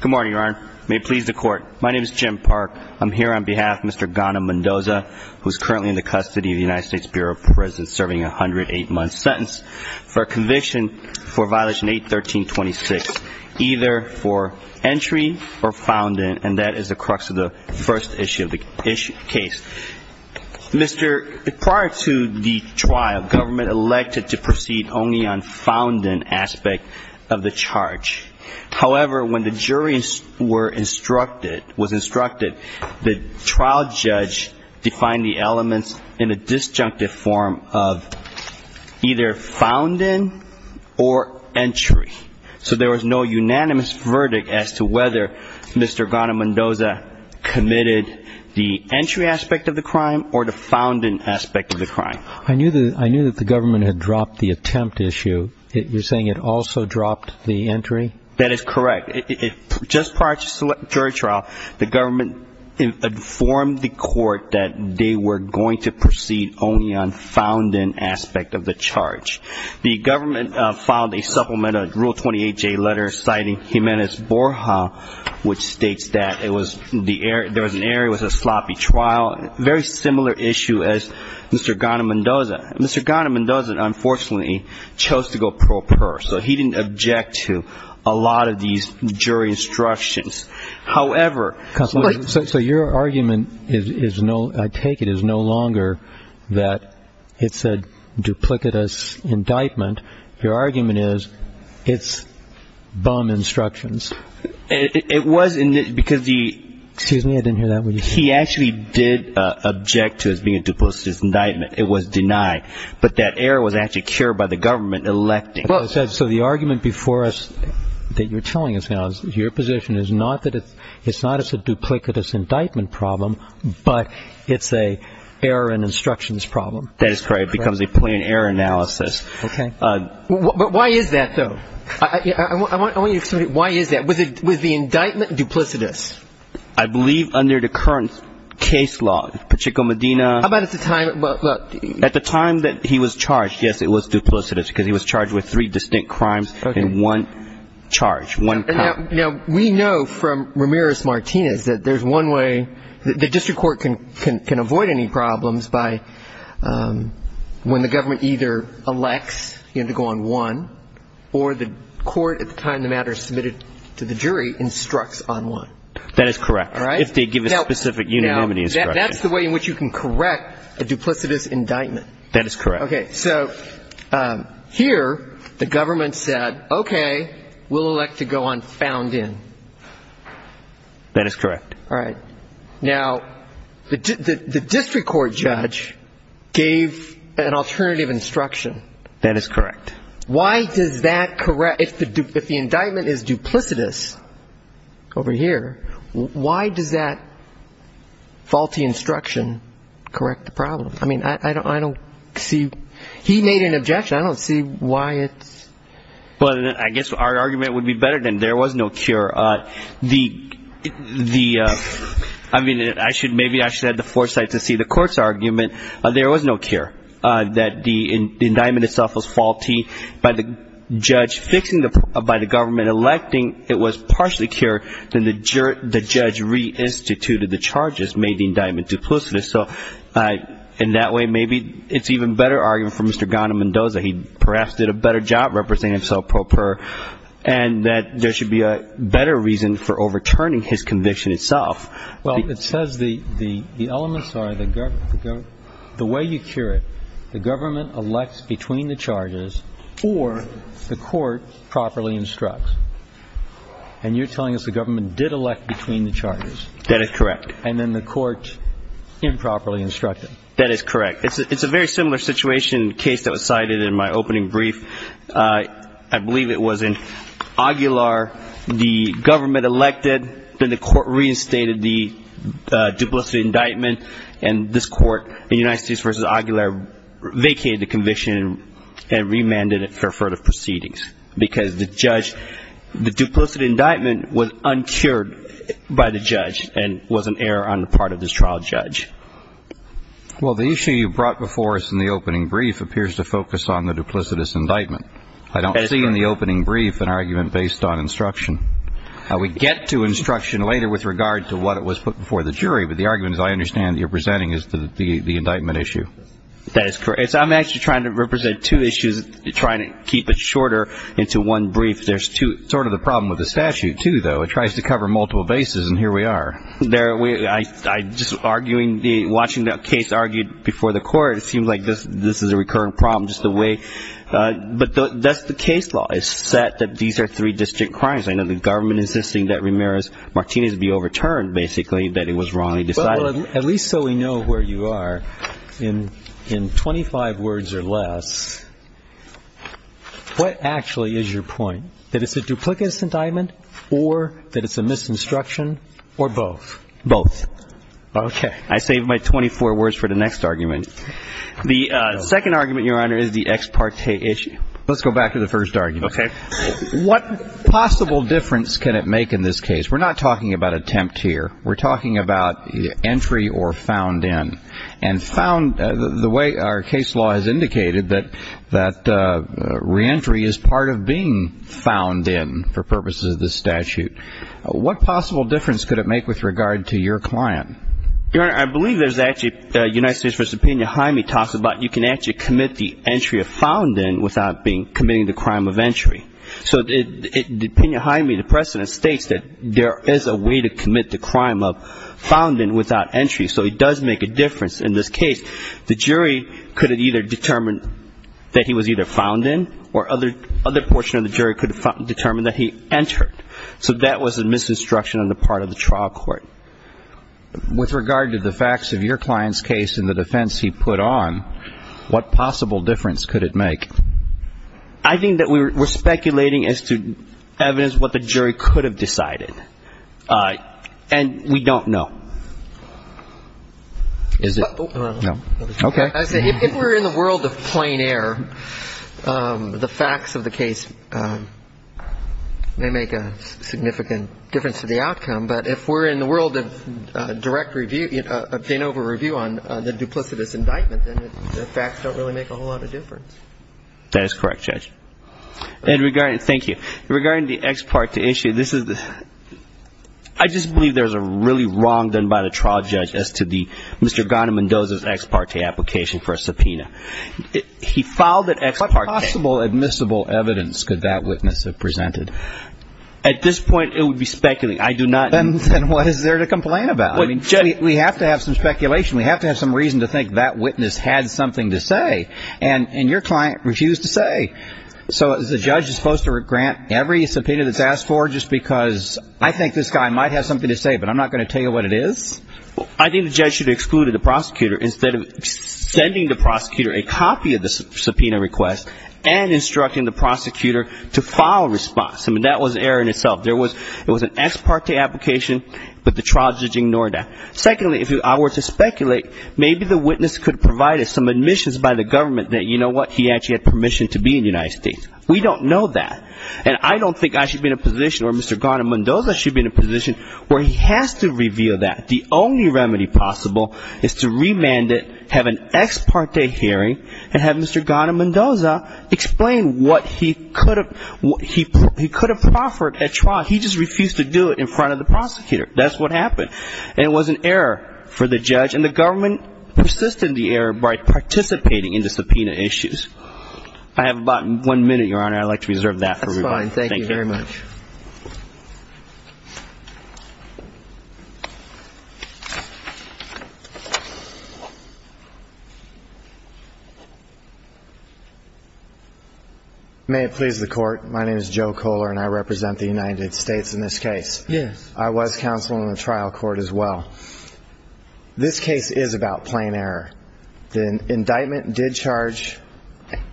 Good morning, Your Honor. May it please the Court. My name is Jim Park. I'm here on behalf of Mr. Gauna-Mendoza, who is currently in the custody of the United States Bureau of Prisons, serving a 108-month sentence for a conviction for violation 81326, either for entry or found in, and that is the crux of the first issue of the case. Prior to the trial, government elected to proceed only on found in aspect of the charge. However, when the jury was instructed, the trial judge defined the elements in a disjunctive form of either found in or entry. So there was no unanimous verdict as to whether Mr. Gauna-Mendoza committed the entry aspect of the crime or the found in aspect of the crime. I knew that the government had dropped the attempt issue. You're saying it also dropped the entry? That is correct. Just prior to jury trial, the government informed the court that they were going to proceed only on found in aspect of the charge. The government filed a supplemental Rule 28J letter citing Jimenez-Borja, which states that there was an error, it was a sloppy trial, a very similar issue as Mr. Gauna-Mendoza. Mr. Gauna-Mendoza, unfortunately, chose to go pro per, so he didn't object to a lot of these jury instructions. So your argument, I take it, is no longer that it's a duplicitous indictment. Your argument is it's bum instructions. It was, because he actually did object to it being a duplicitous indictment. It was denied. But that error was actually cured by the government electing. So the argument before us that you're telling us now is your position is not that it's a duplicitous indictment problem, but it's an error in instructions problem. That is correct. It becomes a plain error analysis. Okay. But why is that, though? I want you to explain why is that. Was the indictment duplicitous? I believe under the current case law, Pacheco Medina... How about at the time... At the time that he was charged, yes, it was duplicitous, because he was charged with three distinct crimes in one charge, one... Now, we know from Ramirez-Martinez that there's one way the district court can avoid any problems by when the government either elects to go on one or the court, at the time the matter is submitted to the jury, instructs on one. That is correct. All right. If they give a specific unanimity instruction. And that's the way in which you can correct a duplicitous indictment. That is correct. Okay. So here the government said, okay, we'll elect to go on found in. That is correct. All right. Now, the district court judge gave an alternative instruction. That is correct. Why does that correct... If the indictment is duplicitous over here, why does that faulty instruction correct the problem? I mean, I don't see... He made an objection. I don't see why it's... Well, I guess our argument would be better than there was no cure. The... I mean, maybe I should have the foresight to see the court's argument. There was no cure. That the indictment itself was faulty. By the judge fixing the... By the government electing, it was partially cured. Then the judge reinstituted the charges, made the indictment duplicitous. So in that way, maybe it's an even better argument for Mr. Ghana-Mendoza. He perhaps did a better job representing himself pro per, and that there should be a better reason for overturning his conviction itself. Well, it says the elements are the way you cure it. The government elects between the charges or the court properly instructs. And you're telling us the government did elect between the charges. That is correct. And then the court improperly instructed. That is correct. It's a very similar situation, a case that was cited in my opening brief. I believe it was in Aguilar. The government elected, then the court reinstated the duplicitous indictment, and this court in United States v. Aguilar vacated the conviction and remanded it for further proceedings. Because the judge, the duplicitous indictment was uncured by the judge and was an error on the part of this trial judge. Well, the issue you brought before us in the opening brief appears to focus on the duplicitous indictment. I don't see in the opening brief an argument based on instruction. We get to instruction later with regard to what was put before the jury, but the argument, as I understand it, you're presenting is the indictment issue. That is correct. I'm actually trying to represent two issues, trying to keep it shorter into one brief. There's two. It's sort of the problem with the statute, too, though. It tries to cover multiple bases, and here we are. Just watching the case argued before the court, it seems like this is a recurring problem, but that's the case law. It's set that these are three distinct crimes. I know the government is insisting that Ramirez-Martinez be overturned, basically, that it was wrongly decided. Well, at least so we know where you are, in 25 words or less, what actually is your point, that it's a duplicitous indictment or that it's a misconstruction or both? Both. Okay. I saved my 24 words for the next argument. The second argument, Your Honor, is the ex parte issue. Let's go back to the first argument. Okay. What possible difference can it make in this case? We're not talking about attempt here. We're talking about entry or found in. And found, the way our case law has indicated, that reentry is part of being found in for purposes of the statute. What possible difference could it make with regard to your client? Your Honor, I believe there's actually, United States v. Pena-Hyme talks about, you can actually commit the entry of found in without committing the crime of entry. So Pena-Hyme, the precedent, states that there is a way to commit the crime of found in without entry. So it does make a difference in this case. The jury could have either determined that he was either found in or other portion of the jury could have determined that he entered. So that was a misconstruction on the part of the trial court. With regard to the facts of your client's case and the defense he put on, what possible difference could it make? I think that we're speculating as to evidence what the jury could have decided. And we don't know. Is it? No. Okay. If we're in the world of plain air, the facts of the case may make a significant difference to the outcome. But if we're in the world of direct review, a pain over review on the duplicitous indictment, then the facts don't really make a whole lot of difference. That is correct, Judge. And regarding, thank you. Regarding the ex parte issue, this is, I just believe there's a really wrong done by the trial judge as to the, Mr. Ghana-Mendoza's ex parte application for a subpoena. He filed that ex parte. What possible admissible evidence could that witness have presented? At this point, it would be speculating. I do not. Then what is there to complain about? We have to have some speculation. We have to have some reason to think that witness had something to say. And your client refused to say. So is the judge supposed to grant every subpoena that's asked for just because I think this guy might have something to say, but I'm not going to tell you what it is? I think the judge should have excluded the prosecutor instead of sending the prosecutor a copy of the subpoena request and instructing the prosecutor to file a response. I mean, that was error in itself. There was an ex parte application, but the trial judge ignored that. Secondly, if I were to speculate, maybe the witness could have provided some admissions by the government that, you know what, he actually had permission to be in the United States. We don't know that. And I don't think I should be in a position or Mr. Ghana-Mendoza should be in a position where he has to reveal that. The only remedy possible is to remand it, have an ex parte hearing, and have Mr. Ghana-Mendoza explain what he could have proffered at trial. He just refused to do it in front of the prosecutor. That's what happened. And it was an error for the judge. And the government persisted in the error by participating in the subpoena issues. I have about one minute, Your Honor. I'd like to reserve that for rebuttal. Thank you very much. May it please the Court. My name is Joe Kohler, and I represent the United States in this case. Yes. I was counsel in the trial court as well. This case is about plain error. The indictment did charge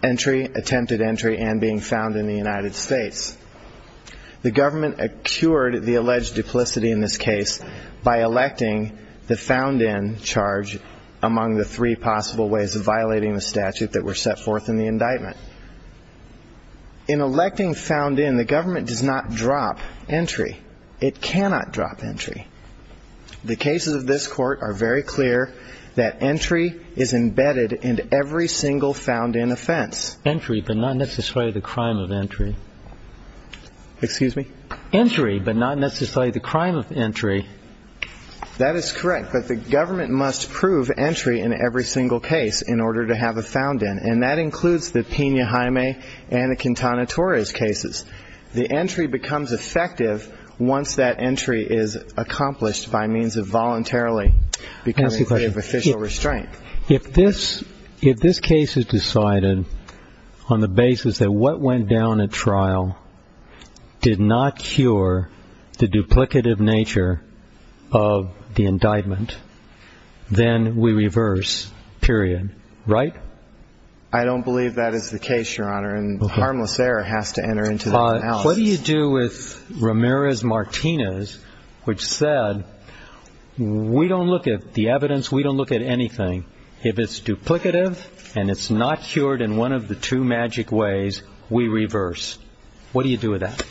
entry, attempted entry, and being found in the United States. The government cured the alleged duplicity in this case by electing the found-in charge among the three possible ways of violating the statute that were set forth in the indictment. In electing found-in, the government does not drop entry. It cannot drop entry. The cases of this Court are very clear that entry is embedded in every single found-in offense. Entry, but not necessarily the crime of entry. Excuse me? Entry, but not necessarily the crime of entry. That is correct. But the government must prove entry in every single case in order to have a found-in, and that includes the Pena-Jaime and the Quintana Torres cases. The entry becomes effective once that entry is accomplished by means of voluntarily becoming a way of official restraint. If this case is decided on the basis that what went down at trial did not cure the duplicative nature of the indictment, then we reverse, period. Right? I don't believe that is the case, Your Honor. Harmless error has to enter into the analysis. What do you do with Ramirez-Martinez, which said, we don't look at the evidence, we don't look at anything. If it's duplicative and it's not cured in one of the two magic ways, we reverse. What do you do with that?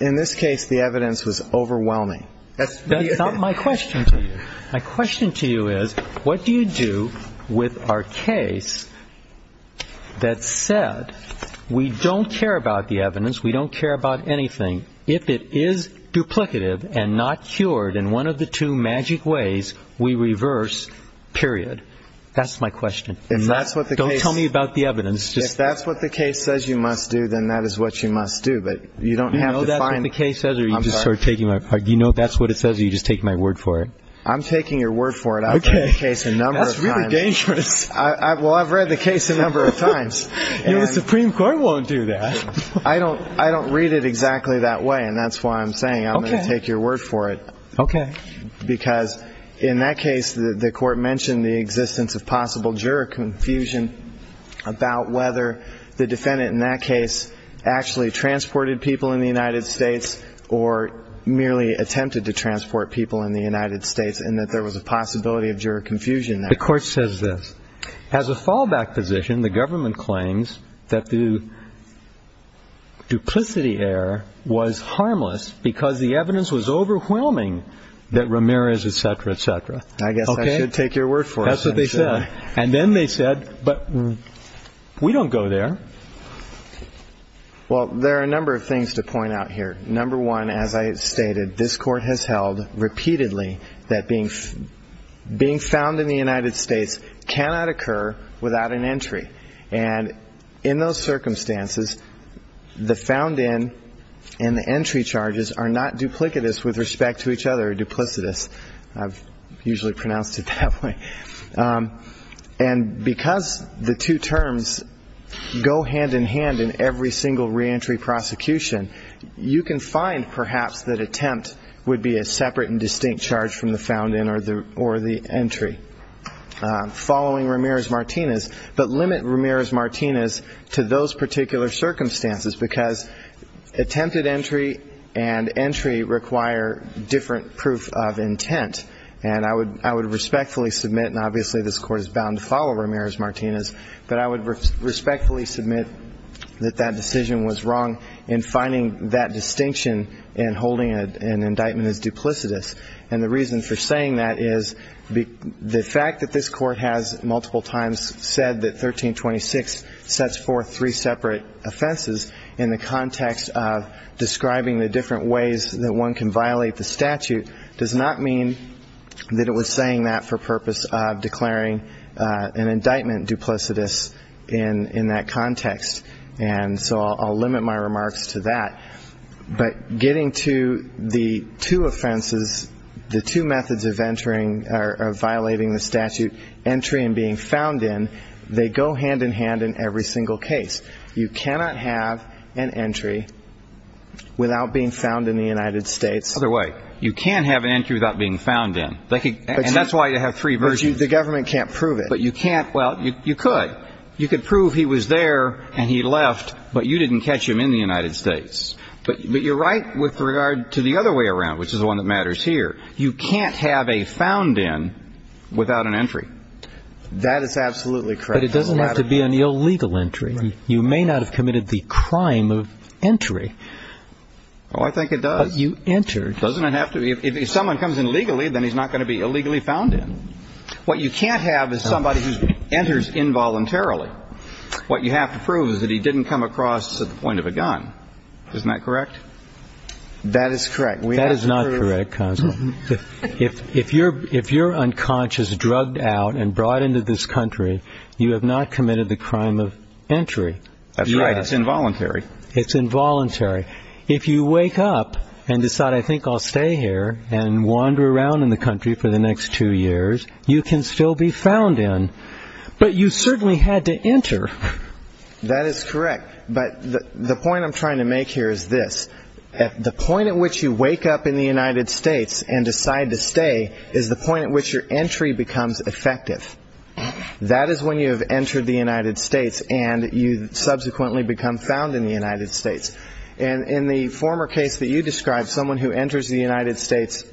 In this case, the evidence was overwhelming. That's not my question to you. My question to you is, what do you do with our case that said, we don't care about the evidence, we don't care about anything. If it is duplicative and not cured in one of the two magic ways, we reverse, period. That's my question. Don't tell me about the evidence. If that's what the case says you must do, then that is what you must do. Do you know if that's what the case says or do you just take my word for it? I'm taking your word for it. I've read the case a number of times. That's really dangerous. Well, I've read the case a number of times. The Supreme Court won't do that. I don't read it exactly that way, and that's why I'm saying I'm going to take your word for it. Okay. Because in that case, the Court mentioned the existence of possible juror confusion about whether the defendant in that case actually transported people in the United States or merely attempted to transport people in the United States and that there was a possibility of juror confusion there. The Court says this. As a fallback position, the government claims that the duplicity error was harmless because the evidence was overwhelming that Ramirez, et cetera, et cetera. I guess I should take your word for it. That's what they said. And then they said, but we don't go there. Well, there are a number of things to point out here. Number one, as I stated, this Court has held repeatedly that being found in the United States cannot occur without an entry, and in those circumstances, the found in and the entry charges are not duplicitous with respect to each other, duplicitous. I've usually pronounced it that way. And because the two terms go hand in hand in every single reentry prosecution, you can find perhaps that attempt would be a separate and distinct charge from the found in or the entry following Ramirez-Martinez, but limit Ramirez-Martinez to those particular circumstances because attempted entry and entry require different proof of intent. And I would respectfully submit, and obviously this Court is bound to follow Ramirez-Martinez, but I would respectfully submit that that decision was wrong in finding that distinction in holding an indictment as duplicitous. And the reason for saying that is the fact that this Court has multiple times said that 1326 sets forth three separate offenses in the context of describing the different ways that one can violate the statute does not mean that it was saying that for purpose of declaring an indictment duplicitous in that context. And so I'll limit my remarks to that. But getting to the two offenses, the two methods of entering or violating the statute, entry and being found in, they go hand in hand in every single case. You cannot have an entry without being found in the United States. Other way. You can't have an entry without being found in. And that's why you have three versions. But the government can't prove it. But you can't. Well, you could. You could prove he was there and he left, but you didn't catch him in the United States. But you're right with regard to the other way around, which is the one that matters here. You can't have a found in without an entry. That is absolutely correct. But it doesn't have to be an illegal entry. You may not have committed the crime of entry. Oh, I think it does. But you entered. Doesn't it have to be? If someone comes in legally, then he's not going to be illegally found in. What you can't have is somebody who enters involuntarily. What you have to prove is that he didn't come across at the point of a gun. Isn't that correct? That is correct. That is not correct, Consul. If you're unconscious, drugged out, and brought into this country, you have not committed the crime of entry. That's right. It's involuntary. It's involuntary. If you wake up and decide, I think I'll stay here and wander around in the country for the next two years, you can still be found in. But you certainly had to enter. That is correct. But the point I'm trying to make here is this. The point at which you wake up in the United States and decide to stay is the point at which your entry becomes effective. That is when you have entered the United States and you subsequently become found in the United States. And in the former case that you described, someone who enters the United States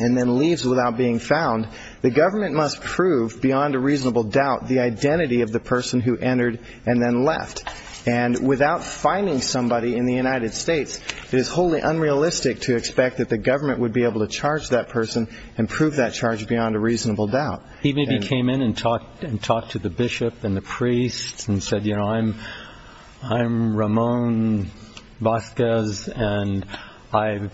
and then leaves without being found, the government must prove beyond a reasonable doubt the identity of the person who entered and then left. And without finding somebody in the United States, it is wholly unrealistic to expect that the government would be able to charge that person and prove that charge beyond a reasonable doubt. He maybe came in and talked to the bishop and the priest and said, I'm Ramon Vazquez, and I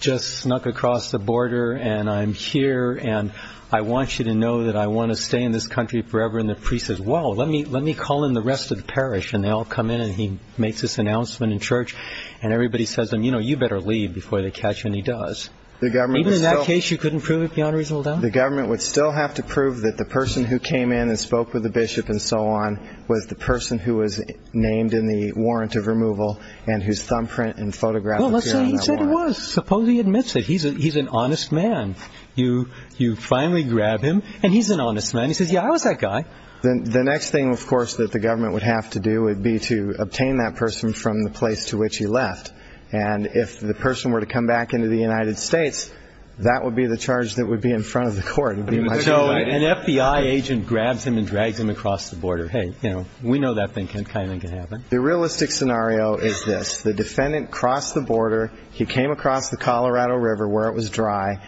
just snuck across the border, and I'm here, and I want you to know that I want to stay in this country forever. And the priest says, well, let me call in the rest of the parish. And they all come in, and he makes this announcement in church, and everybody says to him, you know, you better leave before they catch him, and he does. Even in that case, you couldn't prove it beyond a reasonable doubt? The government would still have to prove that the person who came in and spoke with the bishop and so on was the person who was named in the warrant of removal and whose thumbprint and photograph appeared on that warrant. Well, let's say he said he was. Suppose he admits it. He's an honest man. You finally grab him, and he's an honest man. He says, yeah, I was that guy. The next thing, of course, that the government would have to do would be to obtain that person from the place to which he left. And if the person were to come back into the United States, that would be the charge that would be in front of the court. So an FBI agent grabs him and drags him across the border. Hey, you know, we know that kind of thing can happen. The realistic scenario is this. The defendant crossed the border. He came across the Colorado River where it was dry.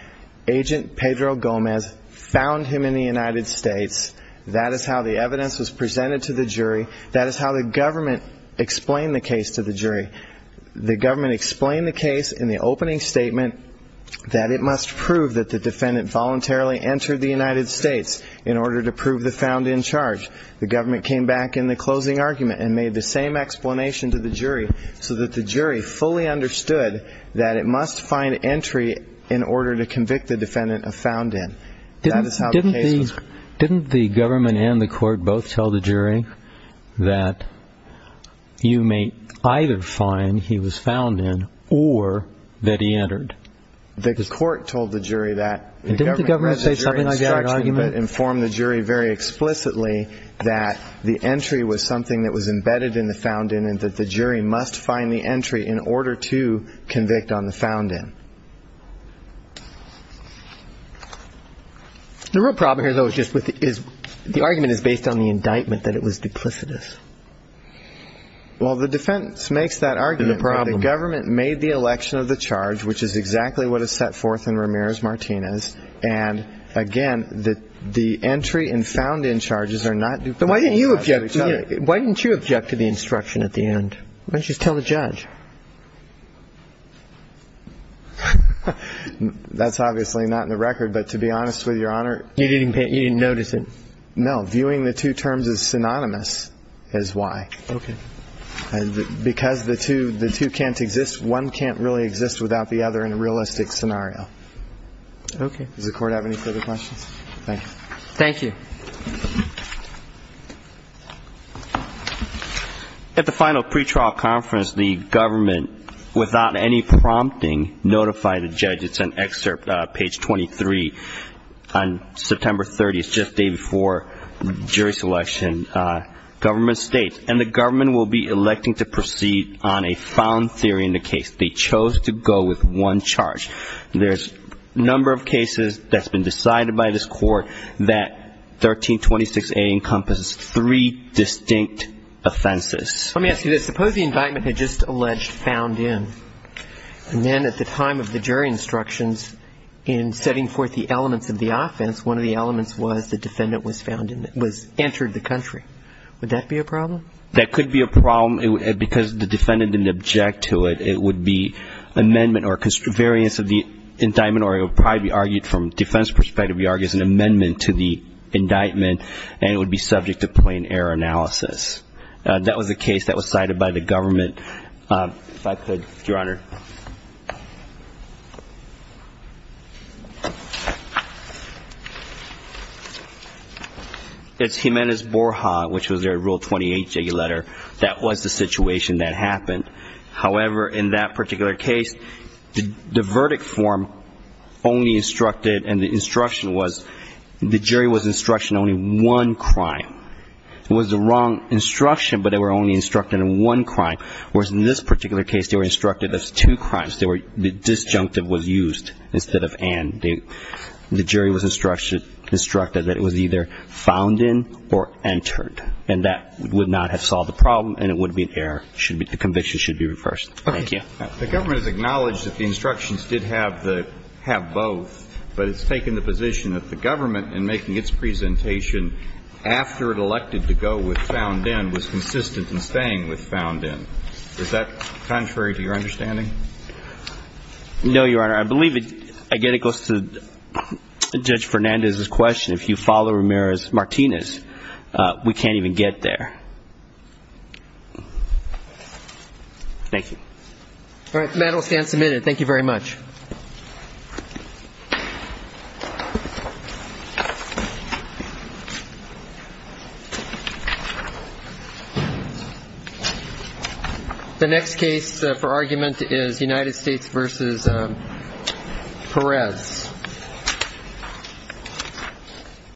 Agent Pedro Gomez found him in the United States. That is how the evidence was presented to the jury. That is how the government explained the case to the jury. The government explained the case in the opening statement that it must prove that the defendant voluntarily entered the United States in order to prove the found in charge. The government came back in the closing argument and made the same explanation to the jury so that the jury fully understood that it must find entry in order to convict the defendant of found in. Didn't the government and the court both tell the jury that you may either find he was found in or that he entered? The court told the jury that. Didn't the government say something like that in argument? The government informed the jury very explicitly that the entry was something that was embedded in the found in and that the jury must find the entry in order to convict on the found in. The real problem here, though, is the argument is based on the indictment that it was duplicitous. Well, the defense makes that argument. The government made the election of the charge, which is exactly what is set forth in Ramirez-Martinez. And, again, the entry and found in charges are not duplicitous. Then why didn't you object to the instruction at the end? Why didn't you just tell the judge? That's obviously not in the record, but to be honest with you, Your Honor. You didn't notice it? No. Viewing the two terms as synonymous is why. Okay. Because the two can't exist, one can't really exist without the other in a realistic scenario. Okay. Does the court have any further questions? Thank you. Thank you. At the final pretrial conference, the government, without any prompting, notified the judge. It's an excerpt, page 23, on September 30th, just a day before jury selection. Government states, and the government will be electing to proceed on a found theory in the case. They chose to go with one charge. There's a number of cases that's been decided by this court that 1326A encompasses three distinct offenses. Let me ask you this. Suppose the indictment had just alleged found in. And then at the time of the jury instructions, in setting forth the elements of the offense, one of the elements was the defendant was found in it, was entered the country. Would that be a problem? That could be a problem because the defendant didn't object to it. It would be amendment or variance of the indictment, or it would probably be argued from a defense perspective, it would be argued as an amendment to the indictment, and it would be subject to plain error analysis. That was the case that was cited by the government. If I could, Your Honor. It's Jimenez-Borja, which was their Rule 28 jiggy letter, that was the situation that happened. However, in that particular case, the verdict form only instructed, and the instruction was, the jury was instructed in only one crime. It was the wrong instruction, but they were only instructed in one crime. Whereas in this particular case, they were instructed as two crimes. The disjunctive was used instead of and. The jury was instructed that it was either found in or entered. And that would not have solved the problem, and it would be an error. The conviction should be reversed. Thank you. The government has acknowledged that the instructions did have both, but it's taken the position that the government, in making its presentation, after it elected to go with found in, was consistent in staying with found in. Is that contrary to your understanding? No, Your Honor. I believe it goes to Judge Fernandez's question. If you follow Ramirez-Martinez, we can't even get there. Thank you. All right. The matter will stand submitted. Thank you very much. Thank you. The next case for argument is United States v. Perez.